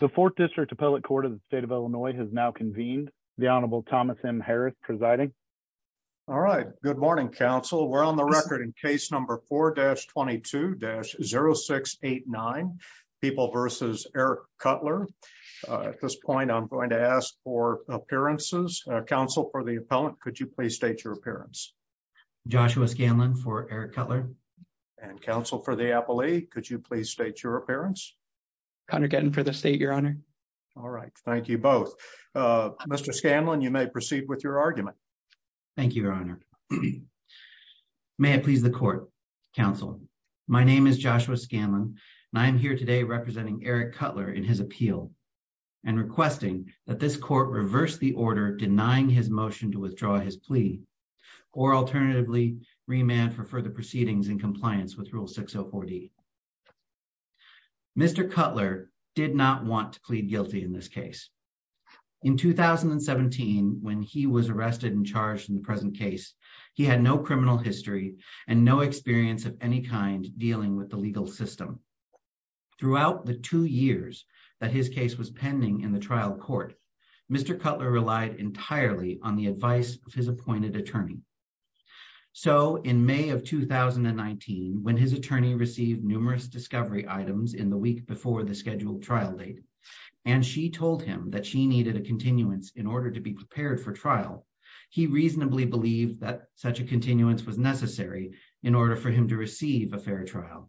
The Fourth District Appellate Court of the State of Illinois has now convened. The Honorable Thomas M. Harris presiding. All right. Good morning, counsel. We're on the record in case number 4-22-0689, People v. Eric Cutler. At this point, I'm going to ask for appearances. Counsel for the appellant, could you please state your appearance? Joshua Scanlon for Eric Cutler. And counsel for the appellee, could you please state your appearance? Connor Gettin for the state, Your Honor. All right. Thank you both. Mr. Scanlon, you may proceed with your argument. Thank you, Your Honor. May it please the court, counsel. My name is Joshua Scanlon, and I am here today representing Eric Cutler in his appeal and requesting that this court reverse the order denying his motion to withdraw his plea or alternatively remand for further proceedings in compliance with Rule 604D. Mr. Cutler did not want to plead guilty in this case. In 2017, when he was arrested and charged in the present case, he had no criminal history and no experience of any kind dealing with the legal system. Throughout the two years that his case was pending in the trial court, Mr. Cutler relied entirely on the advice of his appointed attorney. So in May of 2019, when his attorney received numerous discovery items in the week before the scheduled trial date, and she told him that she needed a continuance in order to be prepared for trial, he reasonably believed that such a continuance was necessary in order for him to receive a fair trial.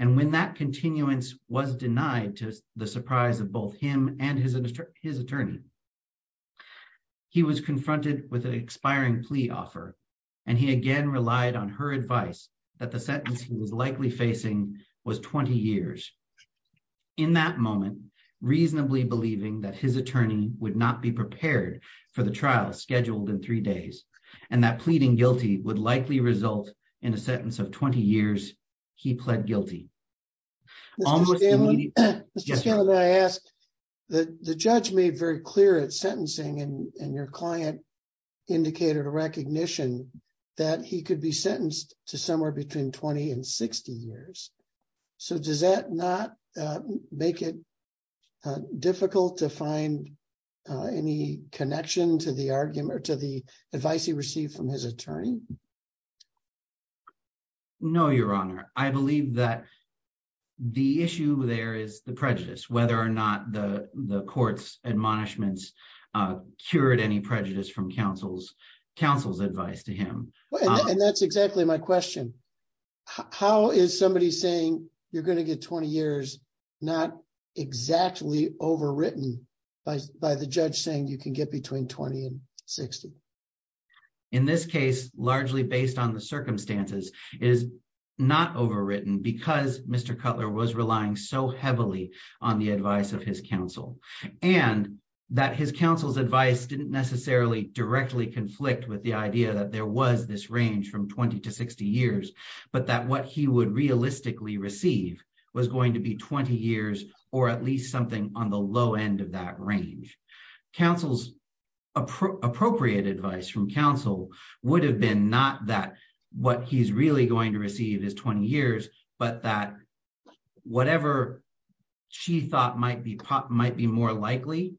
And when that continuance was denied to the surprise of both him and his attorney, he was confronted with an expiring plea offer, and he again relied on her advice that the sentence he was likely facing was 20 years. In that moment, reasonably believing that his attorney would not be prepared for the trial scheduled in three days, and that pleading guilty would likely result in a sentence of 20 years, he pled guilty. Mr. Scanlon, may I ask, the judge made very clear at sentencing and your client indicated a recognition that he could be sentenced to somewhere between 20 and 60 years. So does that not make it difficult to find any connection to the argument or to the advice he received from his attorney? No, Your Honor. I believe that the issue there is the prejudice, whether or not the court's admonishments cured any prejudice from counsel's advice to him. And that's exactly my question. How is somebody saying you're going to get 20 years not exactly overwritten by the judge saying you can get between 20 and 60? In this case, largely based on the circumstances, it is not overwritten because Mr. Cutler was relying so heavily on the advice of his counsel, and that his counsel's advice didn't necessarily directly conflict with the idea that there was this range from 20 to 60 years, but that what he would realistically receive was going to be 20 years or at least something on the low end of that range. Counsel's appropriate advice from counsel would have been not that what he's really going to receive is 20 years, but that whatever she thought might be more likely,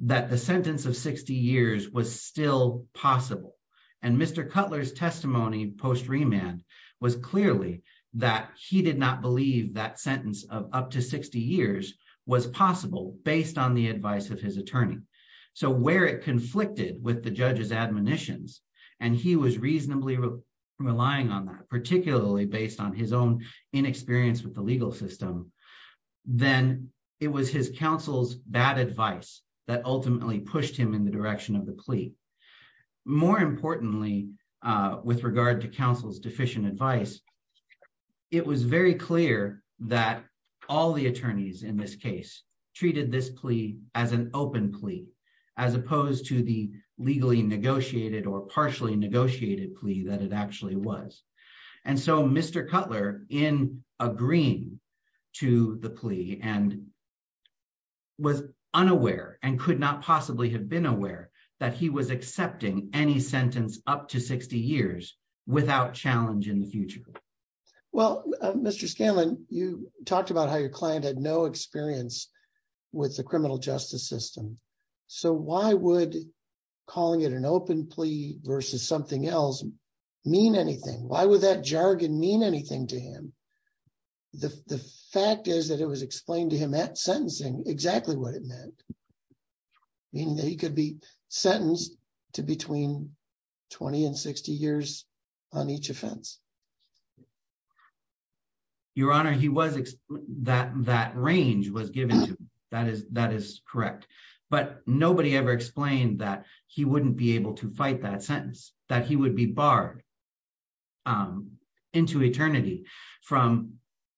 that the sentence of 60 years was still possible. And Mr. Cutler's testimony post remand was clearly that he did not his attorney. So where it conflicted with the judge's admonitions, and he was reasonably relying on that, particularly based on his own inexperience with the legal system, then it was his counsel's bad advice that ultimately pushed him in the direction of the plea. More importantly, with regard to counsel's deficient advice, it was very clear that all attorneys in this case treated this plea as an open plea, as opposed to the legally negotiated or partially negotiated plea that it actually was. And so Mr. Cutler, in agreeing to the plea and was unaware and could not possibly have been aware that he was accepting any sentence up to 60 years without challenge in the future. Well, Mr. Scanlon, you talked about how your client had no experience with the criminal justice system. So why would calling it an open plea versus something else mean anything? Why would that jargon mean anything to him? The fact is that it was explained to him at sentencing exactly what it meant, meaning that he could be sentenced to between 20 and 60 years on each offense. Your Honor, that range was given to him. That is correct. But nobody ever explained that he wouldn't be able to fight that sentence, that he would be barred into eternity from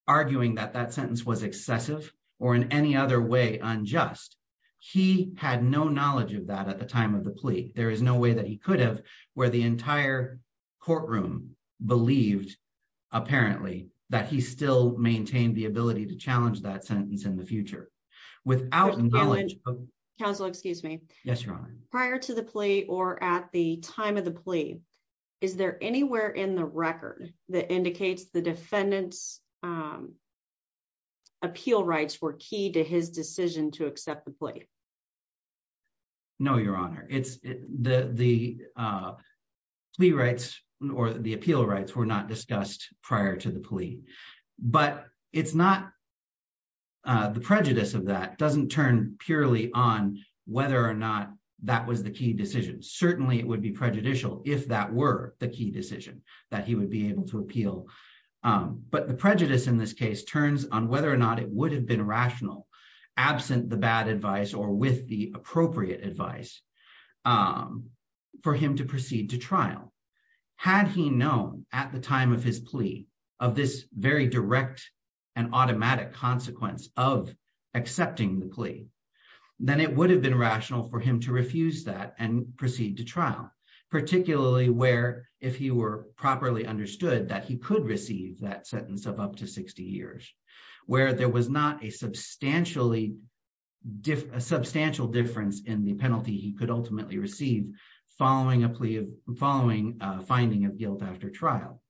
arguing that that sentence was excessive or in any other way unjust. He had no knowledge of that at the time of the plea. There is no way that he could have, where the entire courtroom believed apparently that he still maintained the ability to challenge that sentence in the future without knowledge. Counsel, excuse me. Yes, Your Honor. Prior to the plea or at the time of the plea, is there anywhere in the record that indicates the defendant's appeal rights were key to his decision to accept the plea? No, Your Honor. The appeal rights were not discussed prior to the plea. But the prejudice of that doesn't turn purely on whether or not that was the key decision. Certainly, it would be prejudicial if that were the key decision that he would be able to appeal. But the prejudice in this case turns on whether or not it would have been rational, absent the bad advice or with the appropriate advice, for him to proceed to trial. Had he known at the time of his plea of this very direct and automatic consequence of accepting the plea, then it would have been rational for him to refuse that and proceed to trial, particularly where, if he were properly understood, that he could receive that sentence of up to 60 years, where there was not a substantial difference in the penalty he could ultimately receive following finding of guilt after trial.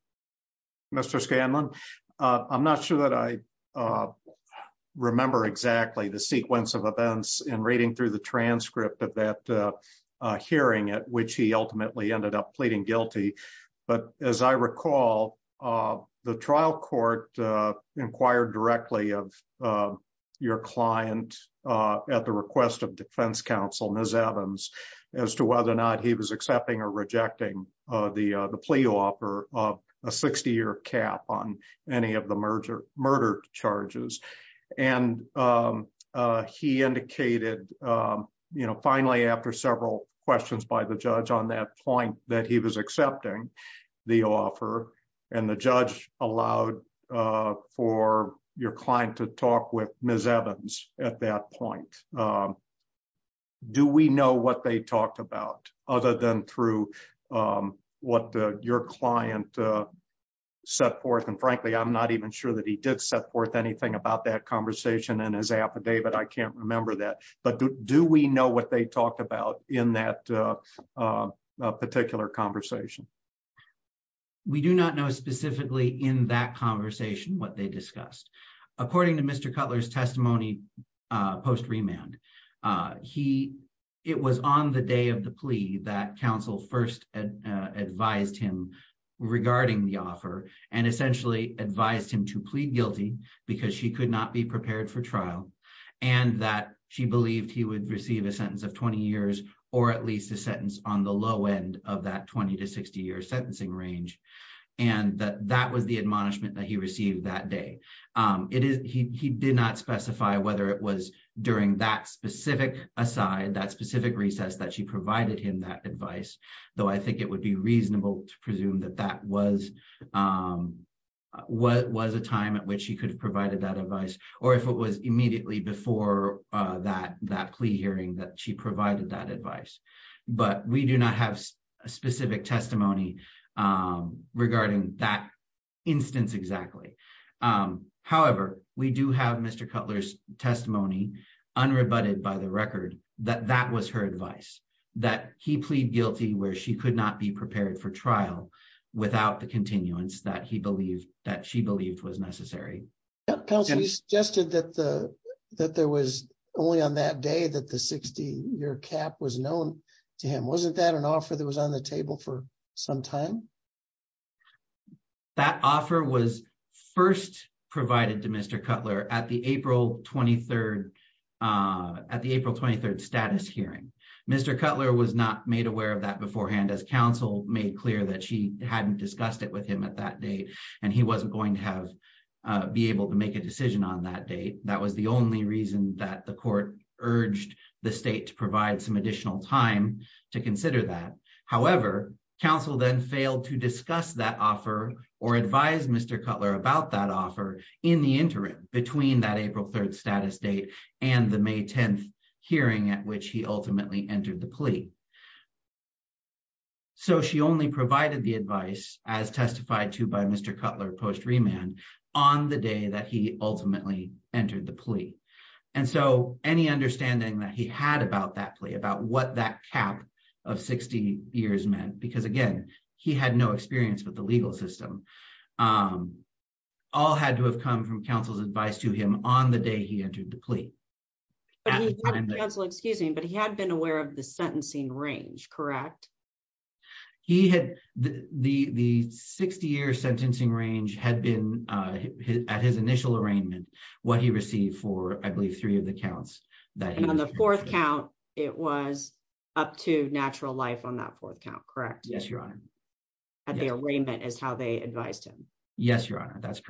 Mr. Scanlon, I'm not sure that I remember exactly the sequence of events in reading through the transcript of that ultimately ended up pleading guilty. But as I recall, the trial court inquired directly of your client at the request of defense counsel, Ms. Evans, as to whether or not he was accepting or rejecting the plea offer of a 60-year cap on any of the murder charges. And he indicated, you know, finally, after several questions by the judge on that point, that he was accepting the offer. And the judge allowed for your client to talk with Ms. Evans at that point. Do we know what they talked about, other than through what your client set forth? And frankly, I'm not even sure that he did set forth anything about that conversation in his affidavit. I can't remember that. But do we know what they talked about in that particular conversation? We do not know specifically in that conversation what they discussed. According to Mr. Cutler's testimony post remand, it was on the day of the plea that counsel first advised him regarding the offer and essentially advised him to plead guilty because she could not be prepared for trial and that she believed he would receive a sentence of 20 years or at least a sentence on the low end of that 20 to 60-year sentencing range. And that that was the admonishment that he received that day. He did not specify whether it was during that specific aside, that specific recess that she provided him that advice, though I think it would be reasonable to presume that that was what was a time at which he could have provided that advice or if it was immediately before that plea hearing that she provided that advice. But we do not have a specific testimony regarding that instance exactly. However, we do have Mr. Cutler's testimony unrebutted by the record that that was her advice, that he pleaded guilty where she could not be prepared for trial without the continuance that he believed that she believed was necessary. Counsel, you suggested that there was only on that day that the 60-year cap was known to him. Wasn't that an offer that was on the table for some time? That offer was first provided to Mr. Cutler at the April 23rd status hearing. Mr. Cutler was made aware of that beforehand as counsel made clear that she hadn't discussed it with him at that date and he wasn't going to have be able to make a decision on that date. That was the only reason that the court urged the state to provide some additional time to consider that. However, counsel then failed to discuss that offer or advise Mr. Cutler about that offer in the interim between that April 3rd status date and the May 10th hearing at which he ultimately entered the plea. So she only provided the advice as testified to by Mr. Cutler post remand on the day that he ultimately entered the plea. And so any understanding that he had about that plea, about what that cap of 60 years meant, because again, he had no experience with the legal system, all had to have come from counsel's advice to him on the day he entered the plea. But he had been aware of the sentencing range, correct? He had, the 60 year sentencing range had been at his initial arraignment, what he received for, I believe, three of the counts. And on the fourth count, it was up to natural life on that fourth count, correct? Yes, your honor. At the arraignment is how they advised him. Yes, your honor, that's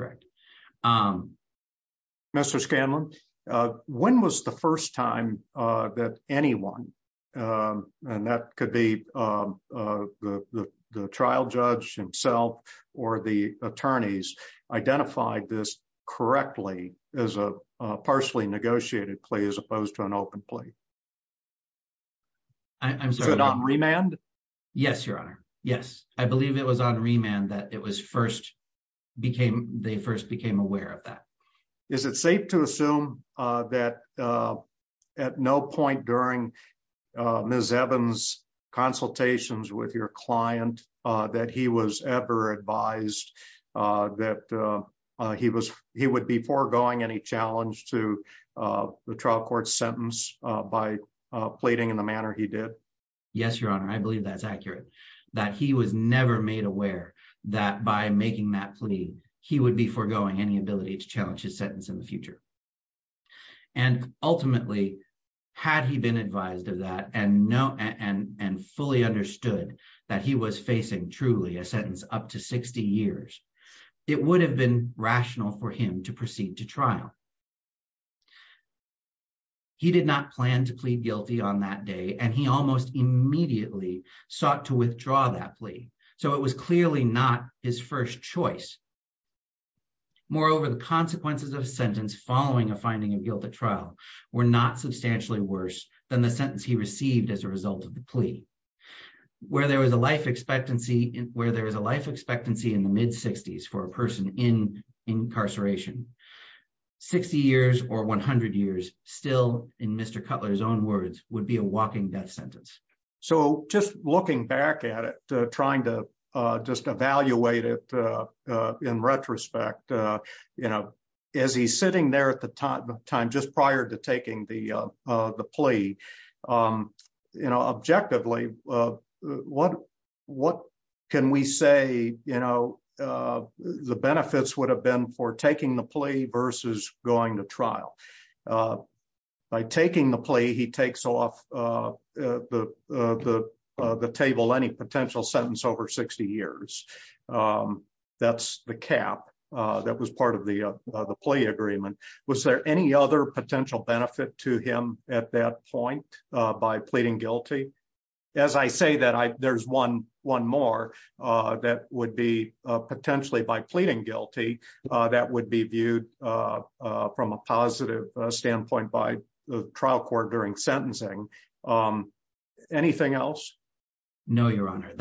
when was the first time that anyone, and that could be the trial judge himself, or the attorneys identified this correctly as a partially negotiated plea as opposed to an open plea. I'm sorry, remand? Yes, your honor. Yes, I believe it was on remand that it was first they first became aware of that. Is it safe to assume that at no point during Ms. Evans' consultations with your client that he was ever advised that he would be foregoing any challenge to the trial court sentence by pleading in the manner he did? Yes, your honor, I believe that's accurate, that he was never made aware that by making that plea, he would be foregoing any ability to challenge his sentence in the future. And ultimately, had he been advised of that and fully understood that he was facing truly a sentence up to 60 years, it would have been rational for him to proceed to trial. He did not plan to plead guilty on that day, and he almost immediately sought to withdraw that plea, so it was clearly not his first choice. Moreover, the consequences of a sentence following a finding of guilt at trial were not substantially worse than the sentence he received as a result of the plea, where there was a life expectancy in the mid-60s for a person in incarceration. 60 years or 100 years still, in Mr. Cutler's own words, would be a walking death sentence. So just looking back at it, trying to just evaluate it in retrospect, as he's sitting there at the time just prior to taking the plea, objectively, what can we say that the benefits would have been for taking the plea versus going to trial? By taking the plea, he takes off the table any potential sentence over 60 years. That's the cap that was part of the plea agreement. Was there any other potential benefit to him at that point by pleading guilty? As I say that, there's one more that would be potentially by pleading guilty that would be viewed from a positive standpoint by the trial court during sentencing. Anything else? No, Your Honor.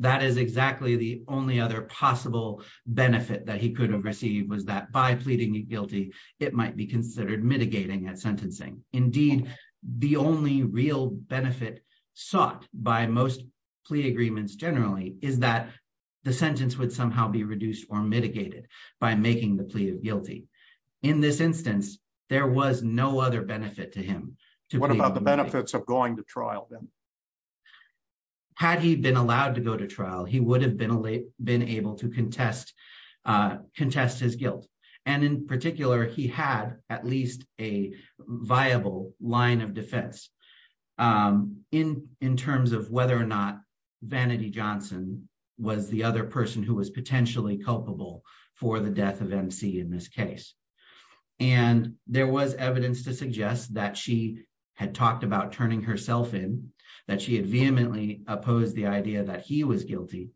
That is exactly the only other possible benefit that he could have received, was that by pleading guilty, it might be considered mitigating at sentencing. Indeed, the only real benefit sought by most plea agreements generally is that the sentence would somehow be reduced or mitigated by making the plea of guilty. In this instance, there was no other benefit to him. What about the benefits of going to trial then? Had he been allowed to go to trial, he would have been able to contest his guilt. And in of defense, in terms of whether or not Vanity Johnson was the other person who was potentially culpable for the death of MC in this case. And there was evidence to suggest that she had talked about turning herself in, that she had vehemently opposed the idea that he was guilty,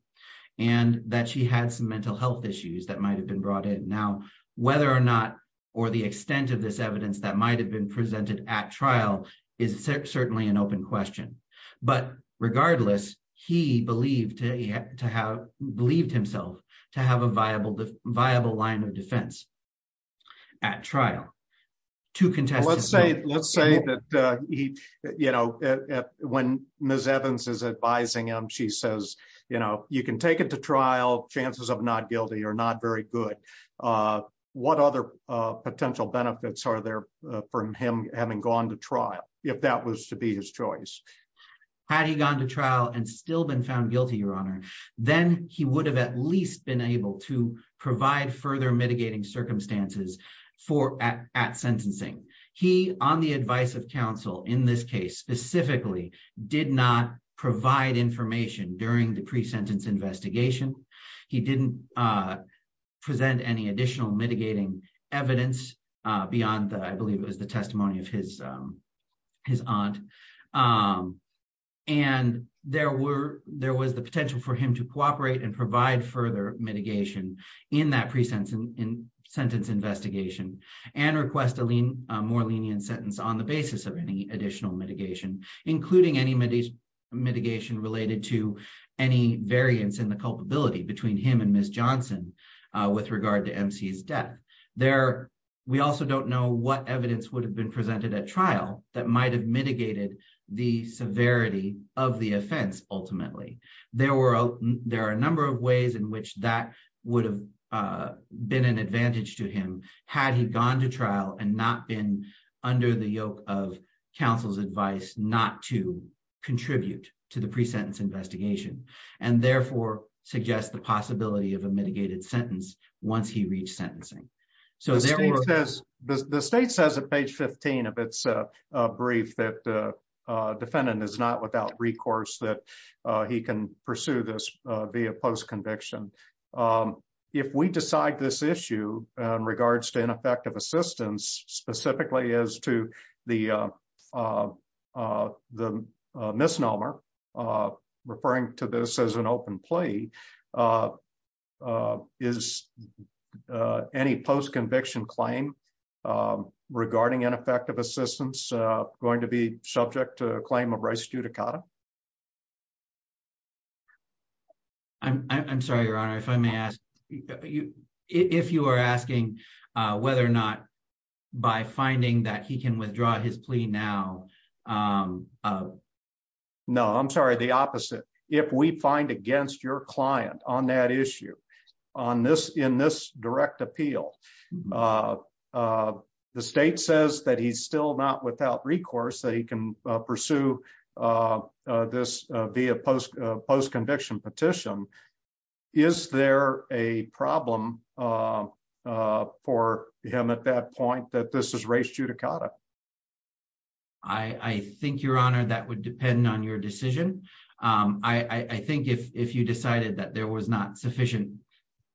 and that she had some mental health issues that might have been brought in. Now, whether or not or the extent of this evidence that might have been presented at trial is certainly an open question. But regardless, he believed himself to have a viable line of defense at trial to contest his guilt. Let's say that when Ms. Evans is advising him, she says, you know, you can take it to trial, chances of not guilty or not very good. What other potential benefits are there for him having gone to trial, if that was to be his choice? Had he gone to trial and still been found guilty, Your Honor, then he would have at least been able to provide further mitigating circumstances for at sentencing. He on the advice of counsel in this case specifically did not provide information during the pre-sentence investigation. He didn't present any additional mitigating evidence beyond the, I believe it was the testimony of his aunt. And there was the potential for him to cooperate and provide further mitigation in that pre-sentence investigation and request a more lenient sentence on the basis of any additional mitigation, including any mitigation related to any variance in the culpability between him and Ms. Johnson with regard to MC's death. We also don't know what evidence would have been presented at trial that might have mitigated the severity of the offense ultimately. There are a number of ways in which that would have been an advantage to him had he gone to trial and not been under the yoke of counsel's advice not to contribute to the pre-sentence investigation and therefore suggest the possibility of a mitigated sentence once he reached sentencing. The state says at page 15 of its brief that the defendant is not without recourse that he can pursue this via post-conviction. If we decide this issue in regards to ineffective assistance, specifically as to the misnomer referring to this as an open plea, is any post-conviction claim regarding ineffective assistance going to be subject to a claim of by finding that he can withdraw his plea now? No, I'm sorry. The opposite. If we find against your client on that issue in this direct appeal, the state says that he's still not without recourse that he can pursue this via post-conviction petition. Is there a problem for him at that point that this is res judicata? I think, your honor, that would depend on your decision. I think if you decided that there was not sufficient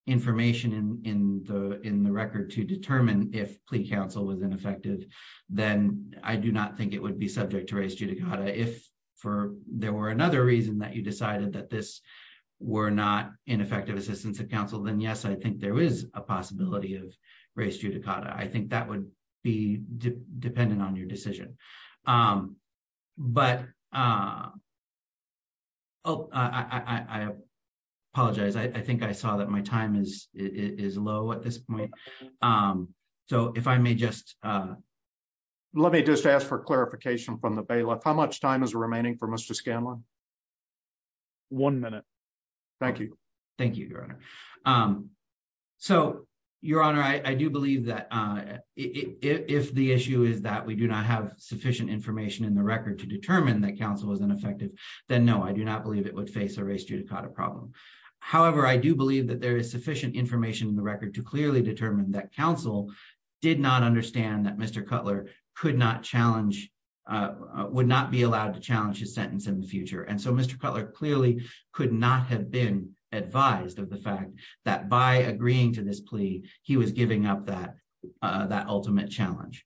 information in the record to determine if plea counsel was ineffective, then I do not think it would be subject to res judicata. If for there were another reason that decided that this were not ineffective assistance of counsel, then yes, I think there is a possibility of res judicata. I think that would be dependent on your decision. I apologize. I think I saw that my time is low at this point. Let me just ask for clarification from the bailiff. How much time is one minute? Thank you. Thank you, your honor. So your honor, I do believe that if the issue is that we do not have sufficient information in the record to determine that counsel was ineffective, then no, I do not believe it would face a res judicata problem. However, I do believe that there is sufficient information in the record to clearly determine that counsel did not understand that Mr. Cutler could not challenge, would not be allowed to challenge his sentence in the future. So Mr. Cutler clearly could not have been advised of the fact that by agreeing to this plea, he was giving up that ultimate challenge.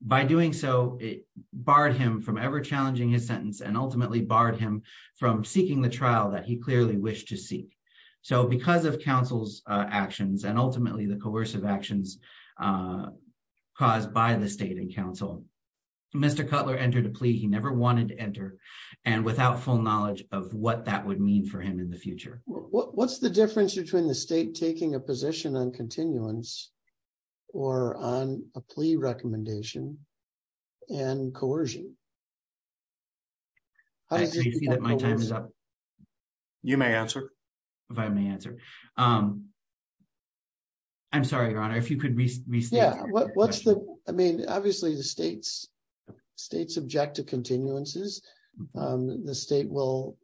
By doing so, it barred him from ever challenging his sentence and ultimately barred him from seeking the trial that he clearly wished to seek. Because of counsel's actions and ultimately the coercive actions caused by the state and counsel, Mr. Cutler entered a plea he never wanted to enter and without full knowledge of what that would mean for him in the future. What's the difference between the state taking a position on continuance or on a plea recommendation and coercion? You may answer. If I may answer. Um, I'm sorry, your honor, if you could restate. Yeah, what's the, I mean, obviously the states, states object to continuances. Um, the state will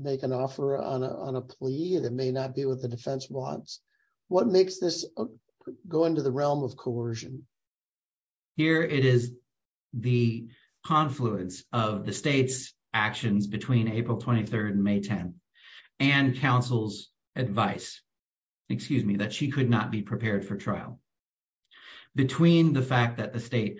make an offer on a, on a plea that may not be what the defense wants. What makes this go into the realm of coercion? Here it is the confluence of the state's actions between April 23rd and May 10th and counsel's advice, excuse me, that she could not be prepared for trial between the fact that the state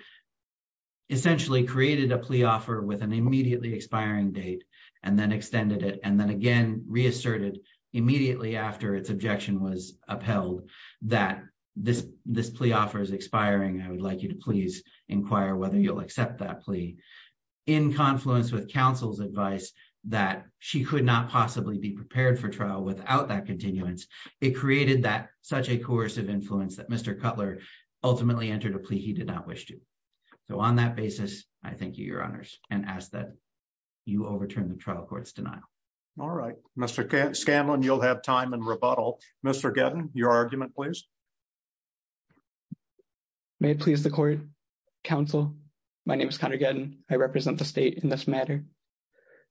essentially created a plea offer with an immediately expiring date and then extended it. And then again, reasserted immediately after its objection was upheld that this, this plea offer is expiring. I would like you to please inquire whether you'll accept that plea in confluence with counsel's advice that she could not possibly be prepared for trial without that continuance. It created that such a course of influence that Mr. Cutler ultimately entered a plea. He did not wish to. So on that basis, I thank you, your honors and ask that you overturn the trial court's denial. All right, Mr. Scanlon, you'll have time and rebuttal. Mr. Gavin, your argument, please. May it please the court. Counsel, my name is Connor Gavin. I represent the state in this matter.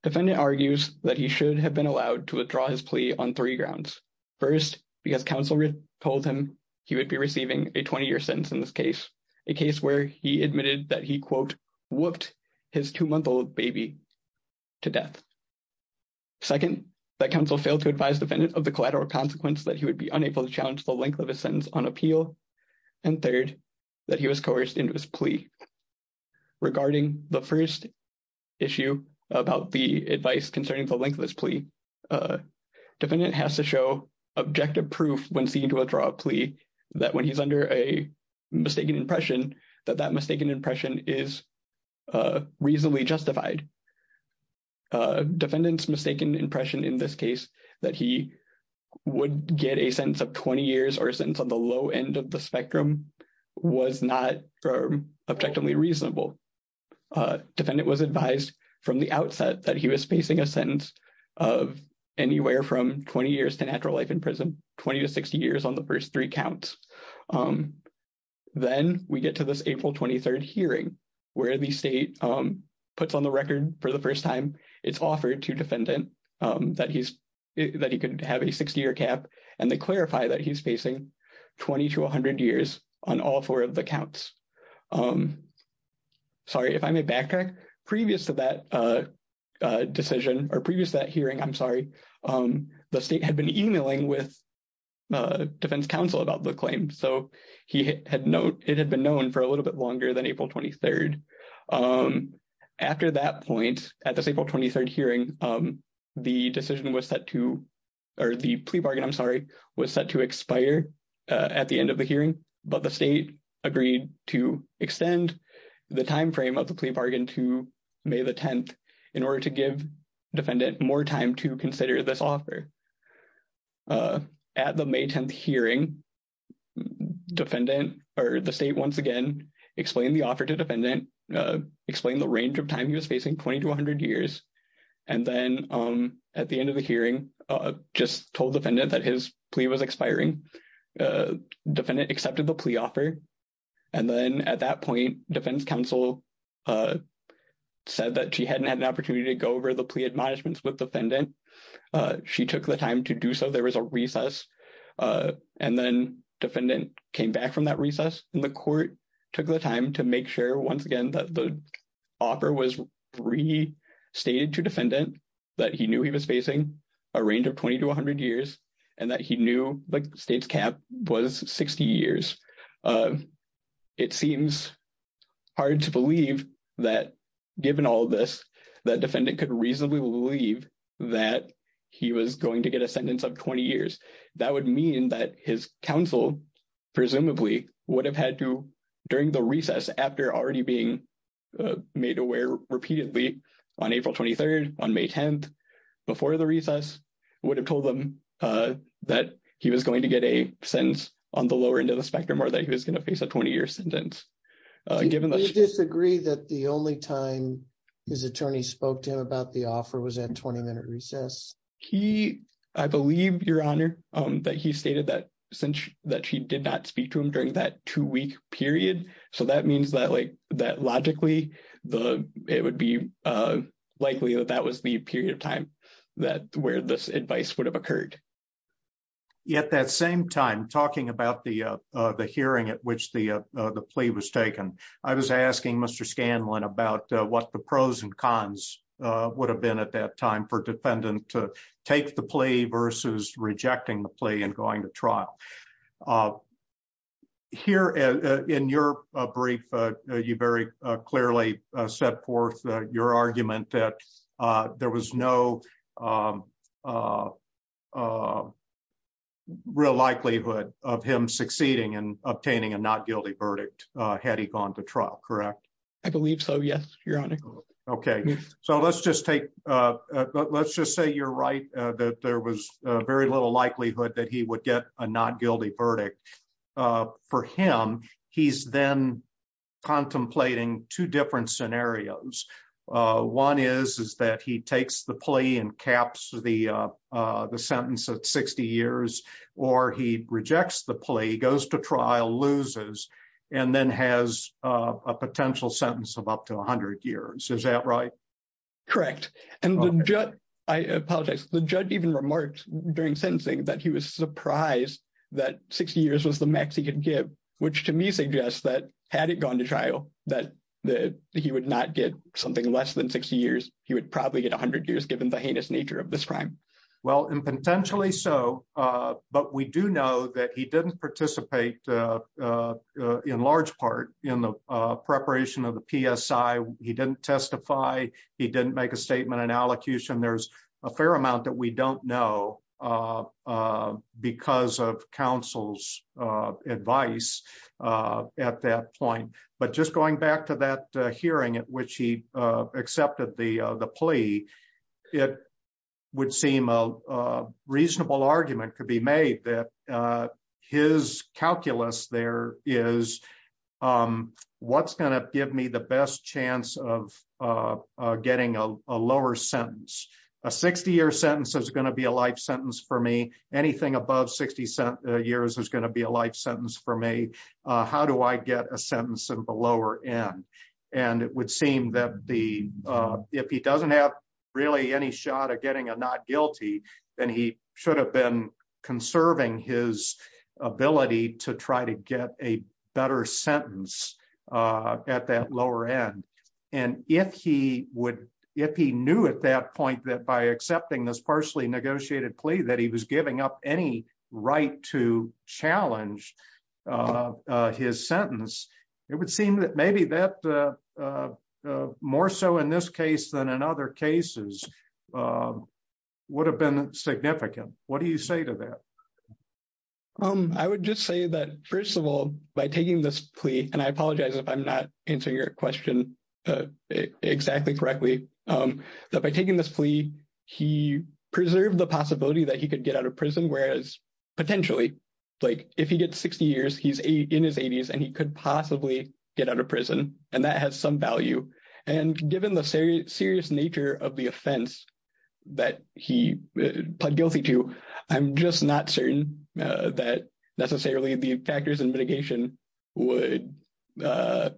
Defendant argues that he should have been allowed to withdraw his plea on three grounds. First, because counsel told him he would be receiving a 20-year sentence in this case, a case where he admitted that he, quote, whooped his two-month-old baby to death. Second, that counsel failed to advise defendant of the collateral consequence that he would be and third, that he was coerced into his plea. Regarding the first issue about the advice concerning the length of this plea, defendant has to show objective proof when seen to withdraw a plea that when he's under a mistaken impression, that that mistaken impression is reasonably justified. Defendant's mistaken impression in this case, that he would get a sentence of 20 years or a low end of the spectrum, was not objectively reasonable. Defendant was advised from the outset that he was facing a sentence of anywhere from 20 years to natural life in prison, 20 to 60 years on the first three counts. Then we get to this April 23rd hearing, where the state puts on the record for the first time it's offered to defendant that he could have a 60-year cap and they clarify that he's facing 20 to 100 years on all four of the counts. Sorry, if I may backtrack, previous to that decision or previous to that hearing, I'm sorry, the state had been emailing with defense counsel about the claim. So, it had been known for a little bit longer than April 23rd. After that point, at this April 23rd hearing, the decision was set to, or the plea bargain, I'm sorry, was set to expire at the end of the hearing. But the state agreed to extend the time frame of the plea bargain to May the 10th in order to give defendant more time to consider this offer. At the May 10th hearing, defendant, or the state once again, explained the offer to defendant, explained the range of time he was facing, 20 to 100 years. And then at the end of the hearing, just told defendant that his plea was expiring. Defendant accepted the plea offer. And then at that point, defense counsel said that she hadn't had an opportunity to go over the plea admonishments with defendant. She took the time to do so. There was a recess. And then defendant came back from that recess and the court took the time to make sure, once again, that the offer was restated to defendant, that he knew he was facing a range of 20 to 100 years, and that he knew the state's cap was 60 years. It seems hard to believe that, given all this, that defendant could reasonably believe that he was going to get a sentence of 20 years. That would mean that his counsel, presumably, would have had to, during the recess, after already being made aware repeatedly on April 23rd, on May 10th, before the recess, would have told him that he was going to get a sentence on the lower end of the spectrum, or that he was going to face a 20-year sentence. Do you disagree that the only time his attorney spoke to him about the offer was at 20-minute that two-week period? So that means that, logically, it would be likely that that was the period of time where this advice would have occurred. At that same time, talking about the hearing at which the plea was taken, I was asking Mr. Scanlon about what the pros and cons would have been at that time for defendant to take the plea versus rejecting the plea and going to trial. Here, in your brief, you very clearly set forth your argument that there was no real likelihood of him succeeding in obtaining a not-guilty verdict had he gone to trial, correct? I believe so, yes, Your Honor. Okay. So let's just say you're right, that there was very little likelihood that he would get a not-guilty verdict, and that for him, he's then contemplating two different scenarios. One is that he takes the plea and caps the sentence at 60 years, or he rejects the plea, goes to trial, loses, and then has a potential sentence of up to 100 years. Is that right? Correct. I apologize. The judge even remarked during sentencing that he was surprised that 60 years was the max he could get, which to me suggests that had it gone to trial, that he would not get something less than 60 years. He would probably get 100 years given the heinous nature of this crime. Well, and potentially so, but we do know that he didn't participate in large part in the preparation of the PSI. He didn't testify. He didn't make a statement in allocution. There's a fair amount that we don't know because of counsel's advice at that point. But just going back to that hearing at which he accepted the plea, it would seem a reasonable argument could be made that his calculus there is what's going to give me the best chance of getting a lower sentence. A 60-year sentence is going to be a life sentence for me. Anything above 60 years is going to be a life sentence for me. How do I get a sentence at the lower end? It would seem that if he doesn't have really any shot at getting a not guilty, then he should have been conserving his ability to try to get a better sentence at that lower end. If he knew at that point that by accepting this partially negotiated plea that he was giving up any right to challenge his sentence, it would seem that maybe that more so in this case than in other cases would have been significant. What do you say to that? I would just say that first of all, by taking this plea, and I apologize if I'm not answering your question exactly correctly, that by taking this plea, he preserved the possibility that he could get out of prison, whereas potentially, like if he gets 60 years, he's in his 80s and he could possibly get out of prison. That has some value. Given the serious nature of the offense that he pled guilty to, I'm just not certain that necessarily the factors and mitigation would be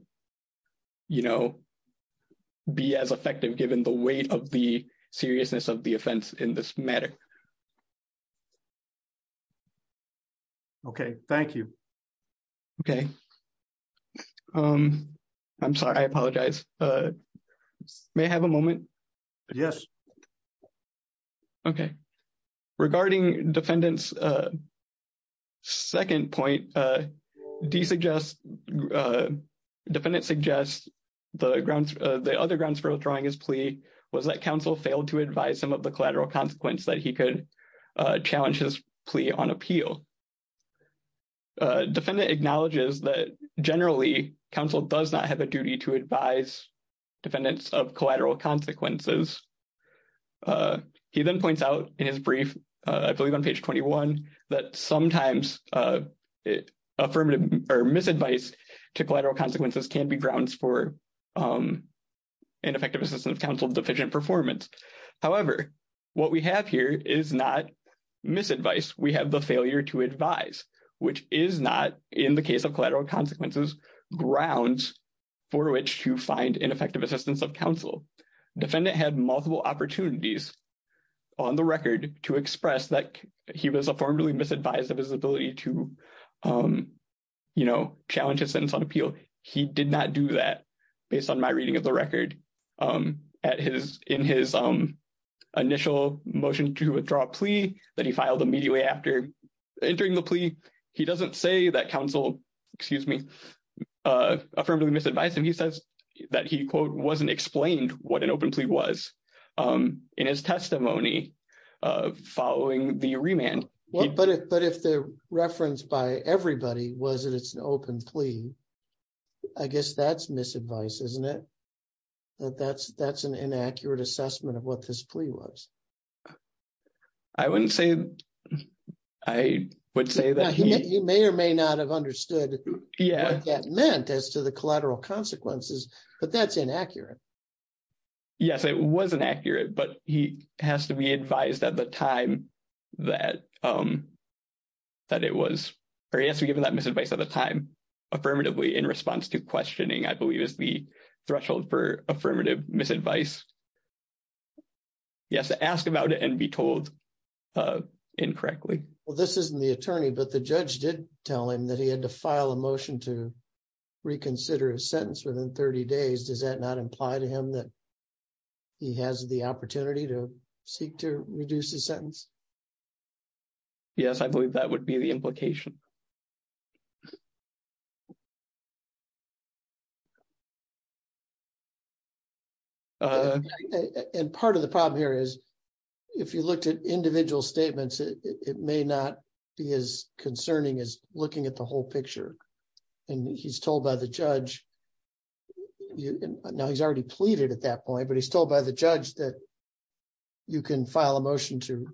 as effective given the weight of the seriousness of the offense in this matter. Okay. Thank you. Okay. I'm sorry. I apologize. May I have a moment? Yes. Okay. Regarding defendant's second point, defendant suggests the other grounds for withdrawing his plea was that counsel failed to advise him of the collateral consequence that he could challenge his plea on appeal. Defendant acknowledges that generally, counsel does not have a duty to advise defendants of collateral consequences. He then points out in his brief, I believe on page 21, that sometimes affirmative or misadvice to collateral consequences can be grounds for ineffective assistance of counsel deficient performance. However, what we have here is not misadvice. We have the failure to advise, which is not, in the case of collateral consequences, grounds for which to find ineffective assistance of counsel. Defendant had multiple opportunities on the record to express that he was formally misadvised of his ability to challenge his sentence on appeal. He did not do that based on my reading of the record. In his initial motion to withdraw plea that he filed immediately after entering the plea, he doesn't say that counsel, excuse me, affirmably misadvised him. He says that he, quote, wasn't explained what an open plea was in his testimony following the remand. But if the reference by everybody was that it's an open plea, I guess that's misadvice, isn't it? That that's an inaccurate assessment of what this plea was. I wouldn't say, I would say that he... He may or may not have understood what that meant as to the collateral consequences, but that's inaccurate. Yes, it was inaccurate, but he has to be advised at the time that it was... Or he has to be given that misadvice at the time, affirmatively in response to questioning, I believe is the threshold for affirmative misadvice. He has to ask about it and be told incorrectly. Well, this isn't the attorney, but the judge did tell him that he had to file a motion to imply to him that he has the opportunity to seek to reduce the sentence. Yes, I believe that would be the implication. And part of the problem here is if you looked at individual statements, it may not be as concerning as looking at the whole picture. And he's told by the judge, you know, he's already pleaded at that point, but he's told by the judge that you can file a motion to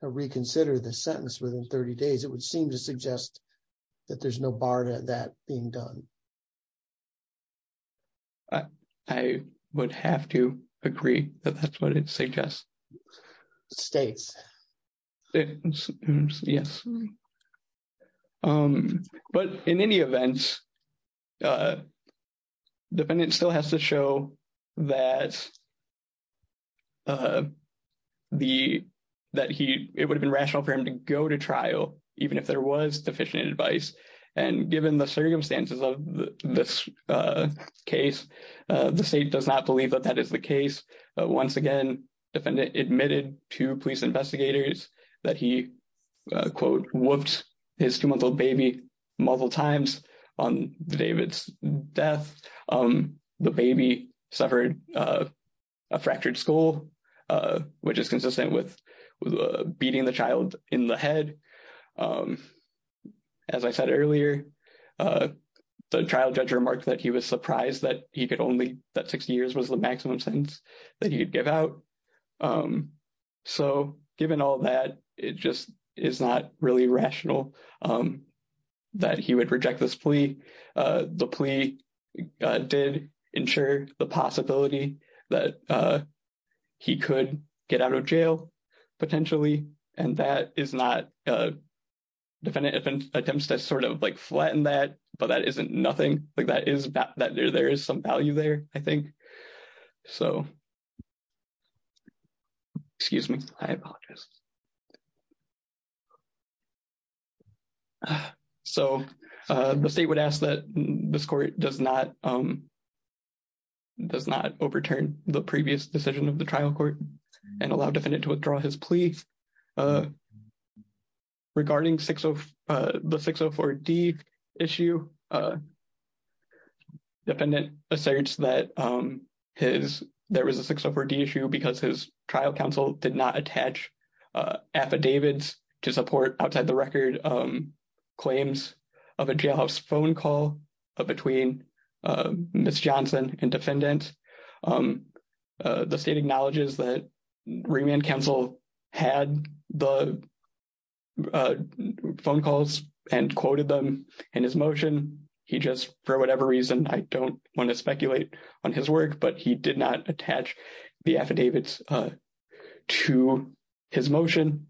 reconsider the sentence within 30 days. It would seem to suggest that there's no bar to that being done. I would have to agree that that's what it suggests. States. Yes. But in any event, defendant still has to show that it would have been rational for him to go to trial, even if there was deficient advice. And given the circumstances of this case, the state does not believe that that is the case. Once again, defendant admitted to police investigators that he, quote, whooped his two month old baby multiple times on the day of its death. The baby suffered a fractured skull, which is consistent with beating the child in the head. As I said earlier, the trial judge remarked that he was surprised that he could only, that 60 years was the maximum sentence that he could give out. So given all that, it just is not really rational that he would reject this plea. The plea did ensure the possibility that he could get out of jail, potentially. And that is not, defendant attempts to sort of like flatten that, but that isn't nothing like that is some value there, I think. So, excuse me, I apologize. So the state would ask that this court does not overturn the previous decision of the trial court and allow defendant to withdraw his plea. Regarding the 604D issue, defendant asserts that there was a 604D issue because his trial counsel did not attach affidavits to support outside the record claims of a jailhouse phone call between Ms. Johnson and defendant. The state acknowledges that remand counsel had the phone calls and quoted them in his motion. He just, for whatever reason, I don't want to speculate on his work, but he did not attach the affidavits to his motion.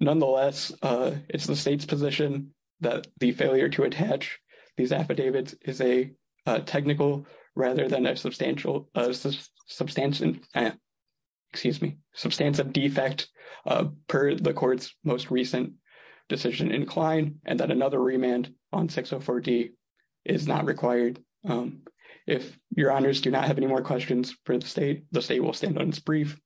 Nonetheless, it's the state's position that the failure to attach these affidavits is a technical rather than a substantial, excuse me, substantive defect per the court's most recent decision inclined, and that another remand on 604D is not required. If your honors do not have any more questions for the state, the state will stand on its brief.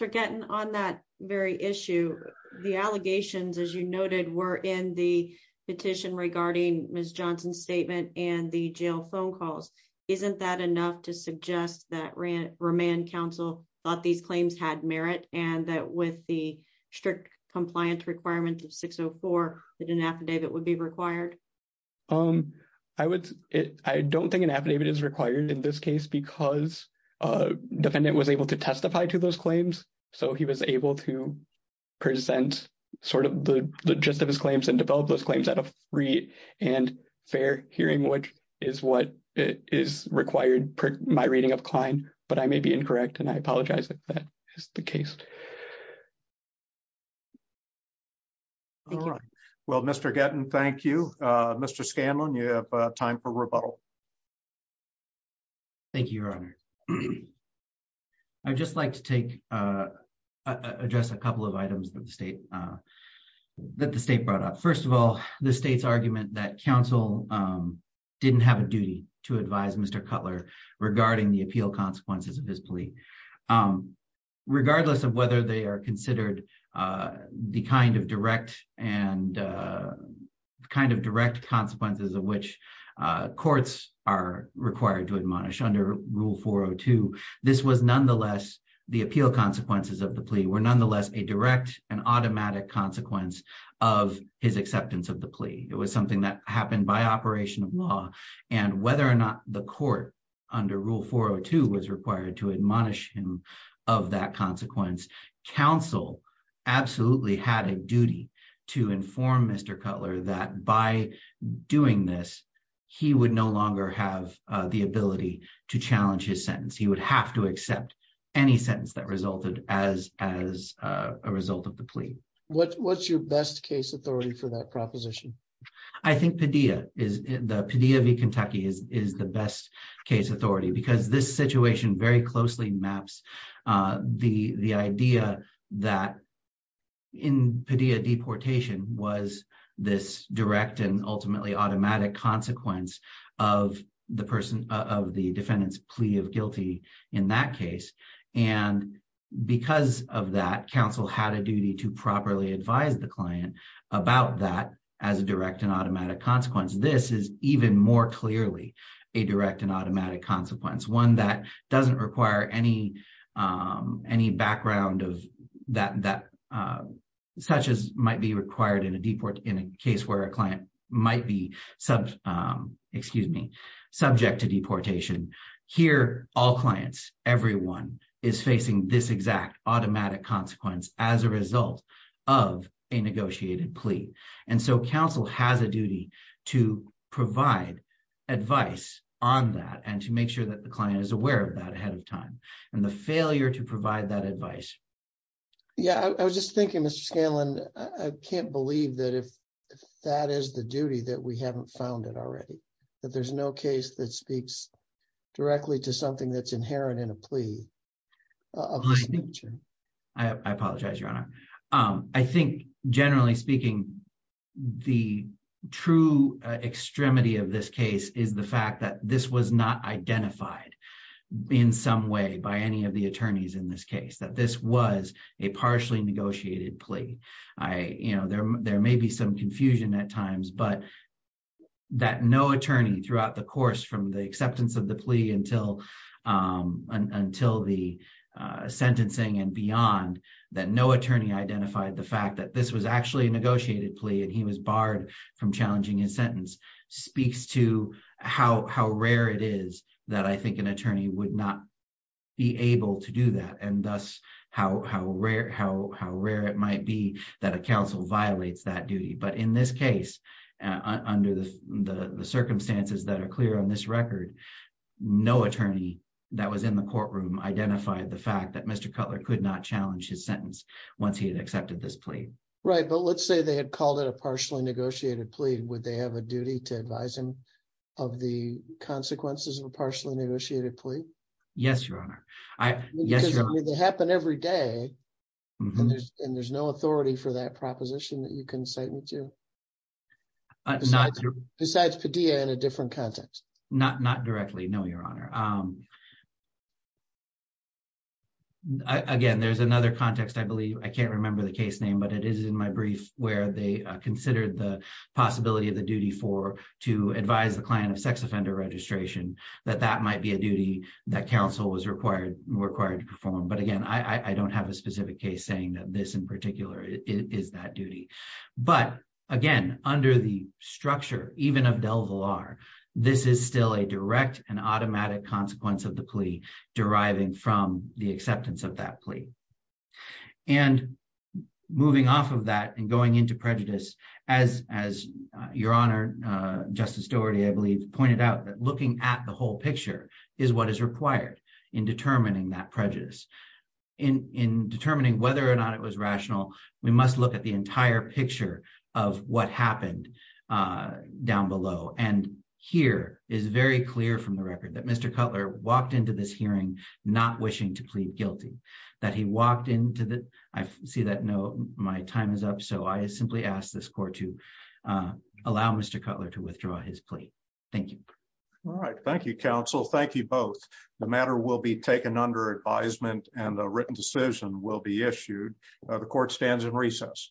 Mr. Gatton, on that very issue, the allegations, as you noted, were in the petition regarding Ms. Johnson's statement and the jail phone calls. Isn't that enough to suggest that remand counsel thought these claims had merit and that with the strict compliance requirements of 604, an affidavit would be required? I don't think an affidavit is required in this case because defendant was able to testify to those claims, so he was able to present sort of the gist of his claims and develop those claims at a free and fair hearing, which is what is required per my reading of Klein, but I may be incorrect and I apologize if that is the case. All right. Well, Mr. Gatton, thank you. Mr. Scanlon, you have time for rebuttal. Thank you, your honor. I'd just like to address a couple of items that the state brought up. First of all, the state's argument that counsel didn't have a duty to advise Mr. Cutler regarding the appeal consequences of his plea. Regardless of whether they are considered the kind of direct and kind of direct consequences of which courts are required to admonish under Rule 402, this was nonetheless, the appeal consequences of the plea were nonetheless a automatic consequence of his acceptance of the plea. It was something that happened by operation of law, and whether or not the court under Rule 402 was required to admonish him of that consequence, counsel absolutely had a duty to inform Mr. Cutler that by doing this, he would no longer have the ability to challenge his sentence. He would have to accept any sentence that resulted as a result of the plea. What's your best case authority for that proposition? I think Padilla v. Kentucky is the best case authority because this situation very closely maps the idea that in Padilla deportation was this direct and ultimately automatic consequence of the defendant's plea of guilty in that case. Because of that, counsel had a duty to properly advise the client about that as a direct and automatic consequence. This is even more clearly a direct and automatic consequence, one that doesn't require any background that such as might be required in a case where a client might be subject to deportation. Here, all clients, everyone is facing this exact automatic consequence as a result of a negotiated plea. Counsel has a duty to provide advice on that and to make sure that the client is aware of that Yeah, I was just thinking, Mr. Scanlon, I can't believe that if that is the duty that we haven't found it already. That there's no case that speaks directly to something that's inherent in a plea of this nature. I apologize, Your Honor. I think generally speaking, the true extremity of this case is the fact that this was not identified in some way by any of the a partially negotiated plea. There may be some confusion at times, but that no attorney throughout the course from the acceptance of the plea until the sentencing and beyond, that no attorney identified the fact that this was actually a negotiated plea and he was barred from challenging his sentence speaks to how rare it is that I think an attorney would not be able to do that and thus how rare it might be that a counsel violates that duty. But in this case, under the circumstances that are clear on this record, no attorney that was in the courtroom identified the fact that Mr. Cutler could not challenge his sentence once he had accepted this plea. Right, but let's say they had called it a partially negotiated plea. Would they have a duty to advise him of the consequences of a partially negotiated plea? Yes, Your Honor. They happen every day and there's no authority for that proposition that you can cite me to? Besides Padilla in a different context? Not directly, no, Your Honor. Again, there's another context I believe. I can't remember the case name, but it is in my brief where they considered the possibility of the duty to advise the client of sex offender registration that that might be a duty that counsel was required to perform. But again, I don't have a specific case saying that this in particular is that duty. But again, under the structure, even of Del Villar, this is still a direct and automatic consequence of the plea deriving from the acceptance of that plea. And moving off of that and going into prejudice, as Your Honor, Justice Doherty, I believe, pointed out that looking at the whole picture is what is required in determining that prejudice. In determining whether or not it was rational, we must look at the entire picture of what happened down below. And here is very clear from the record that Mr. Cutler did not wish to plead guilty, that he walked into the... I see that no, my time is up. So I simply ask this court to allow Mr. Cutler to withdraw his plea. Thank you. All right. Thank you, counsel. Thank you both. The matter will be taken under advisement and a written decision will be issued. The court stands in recess.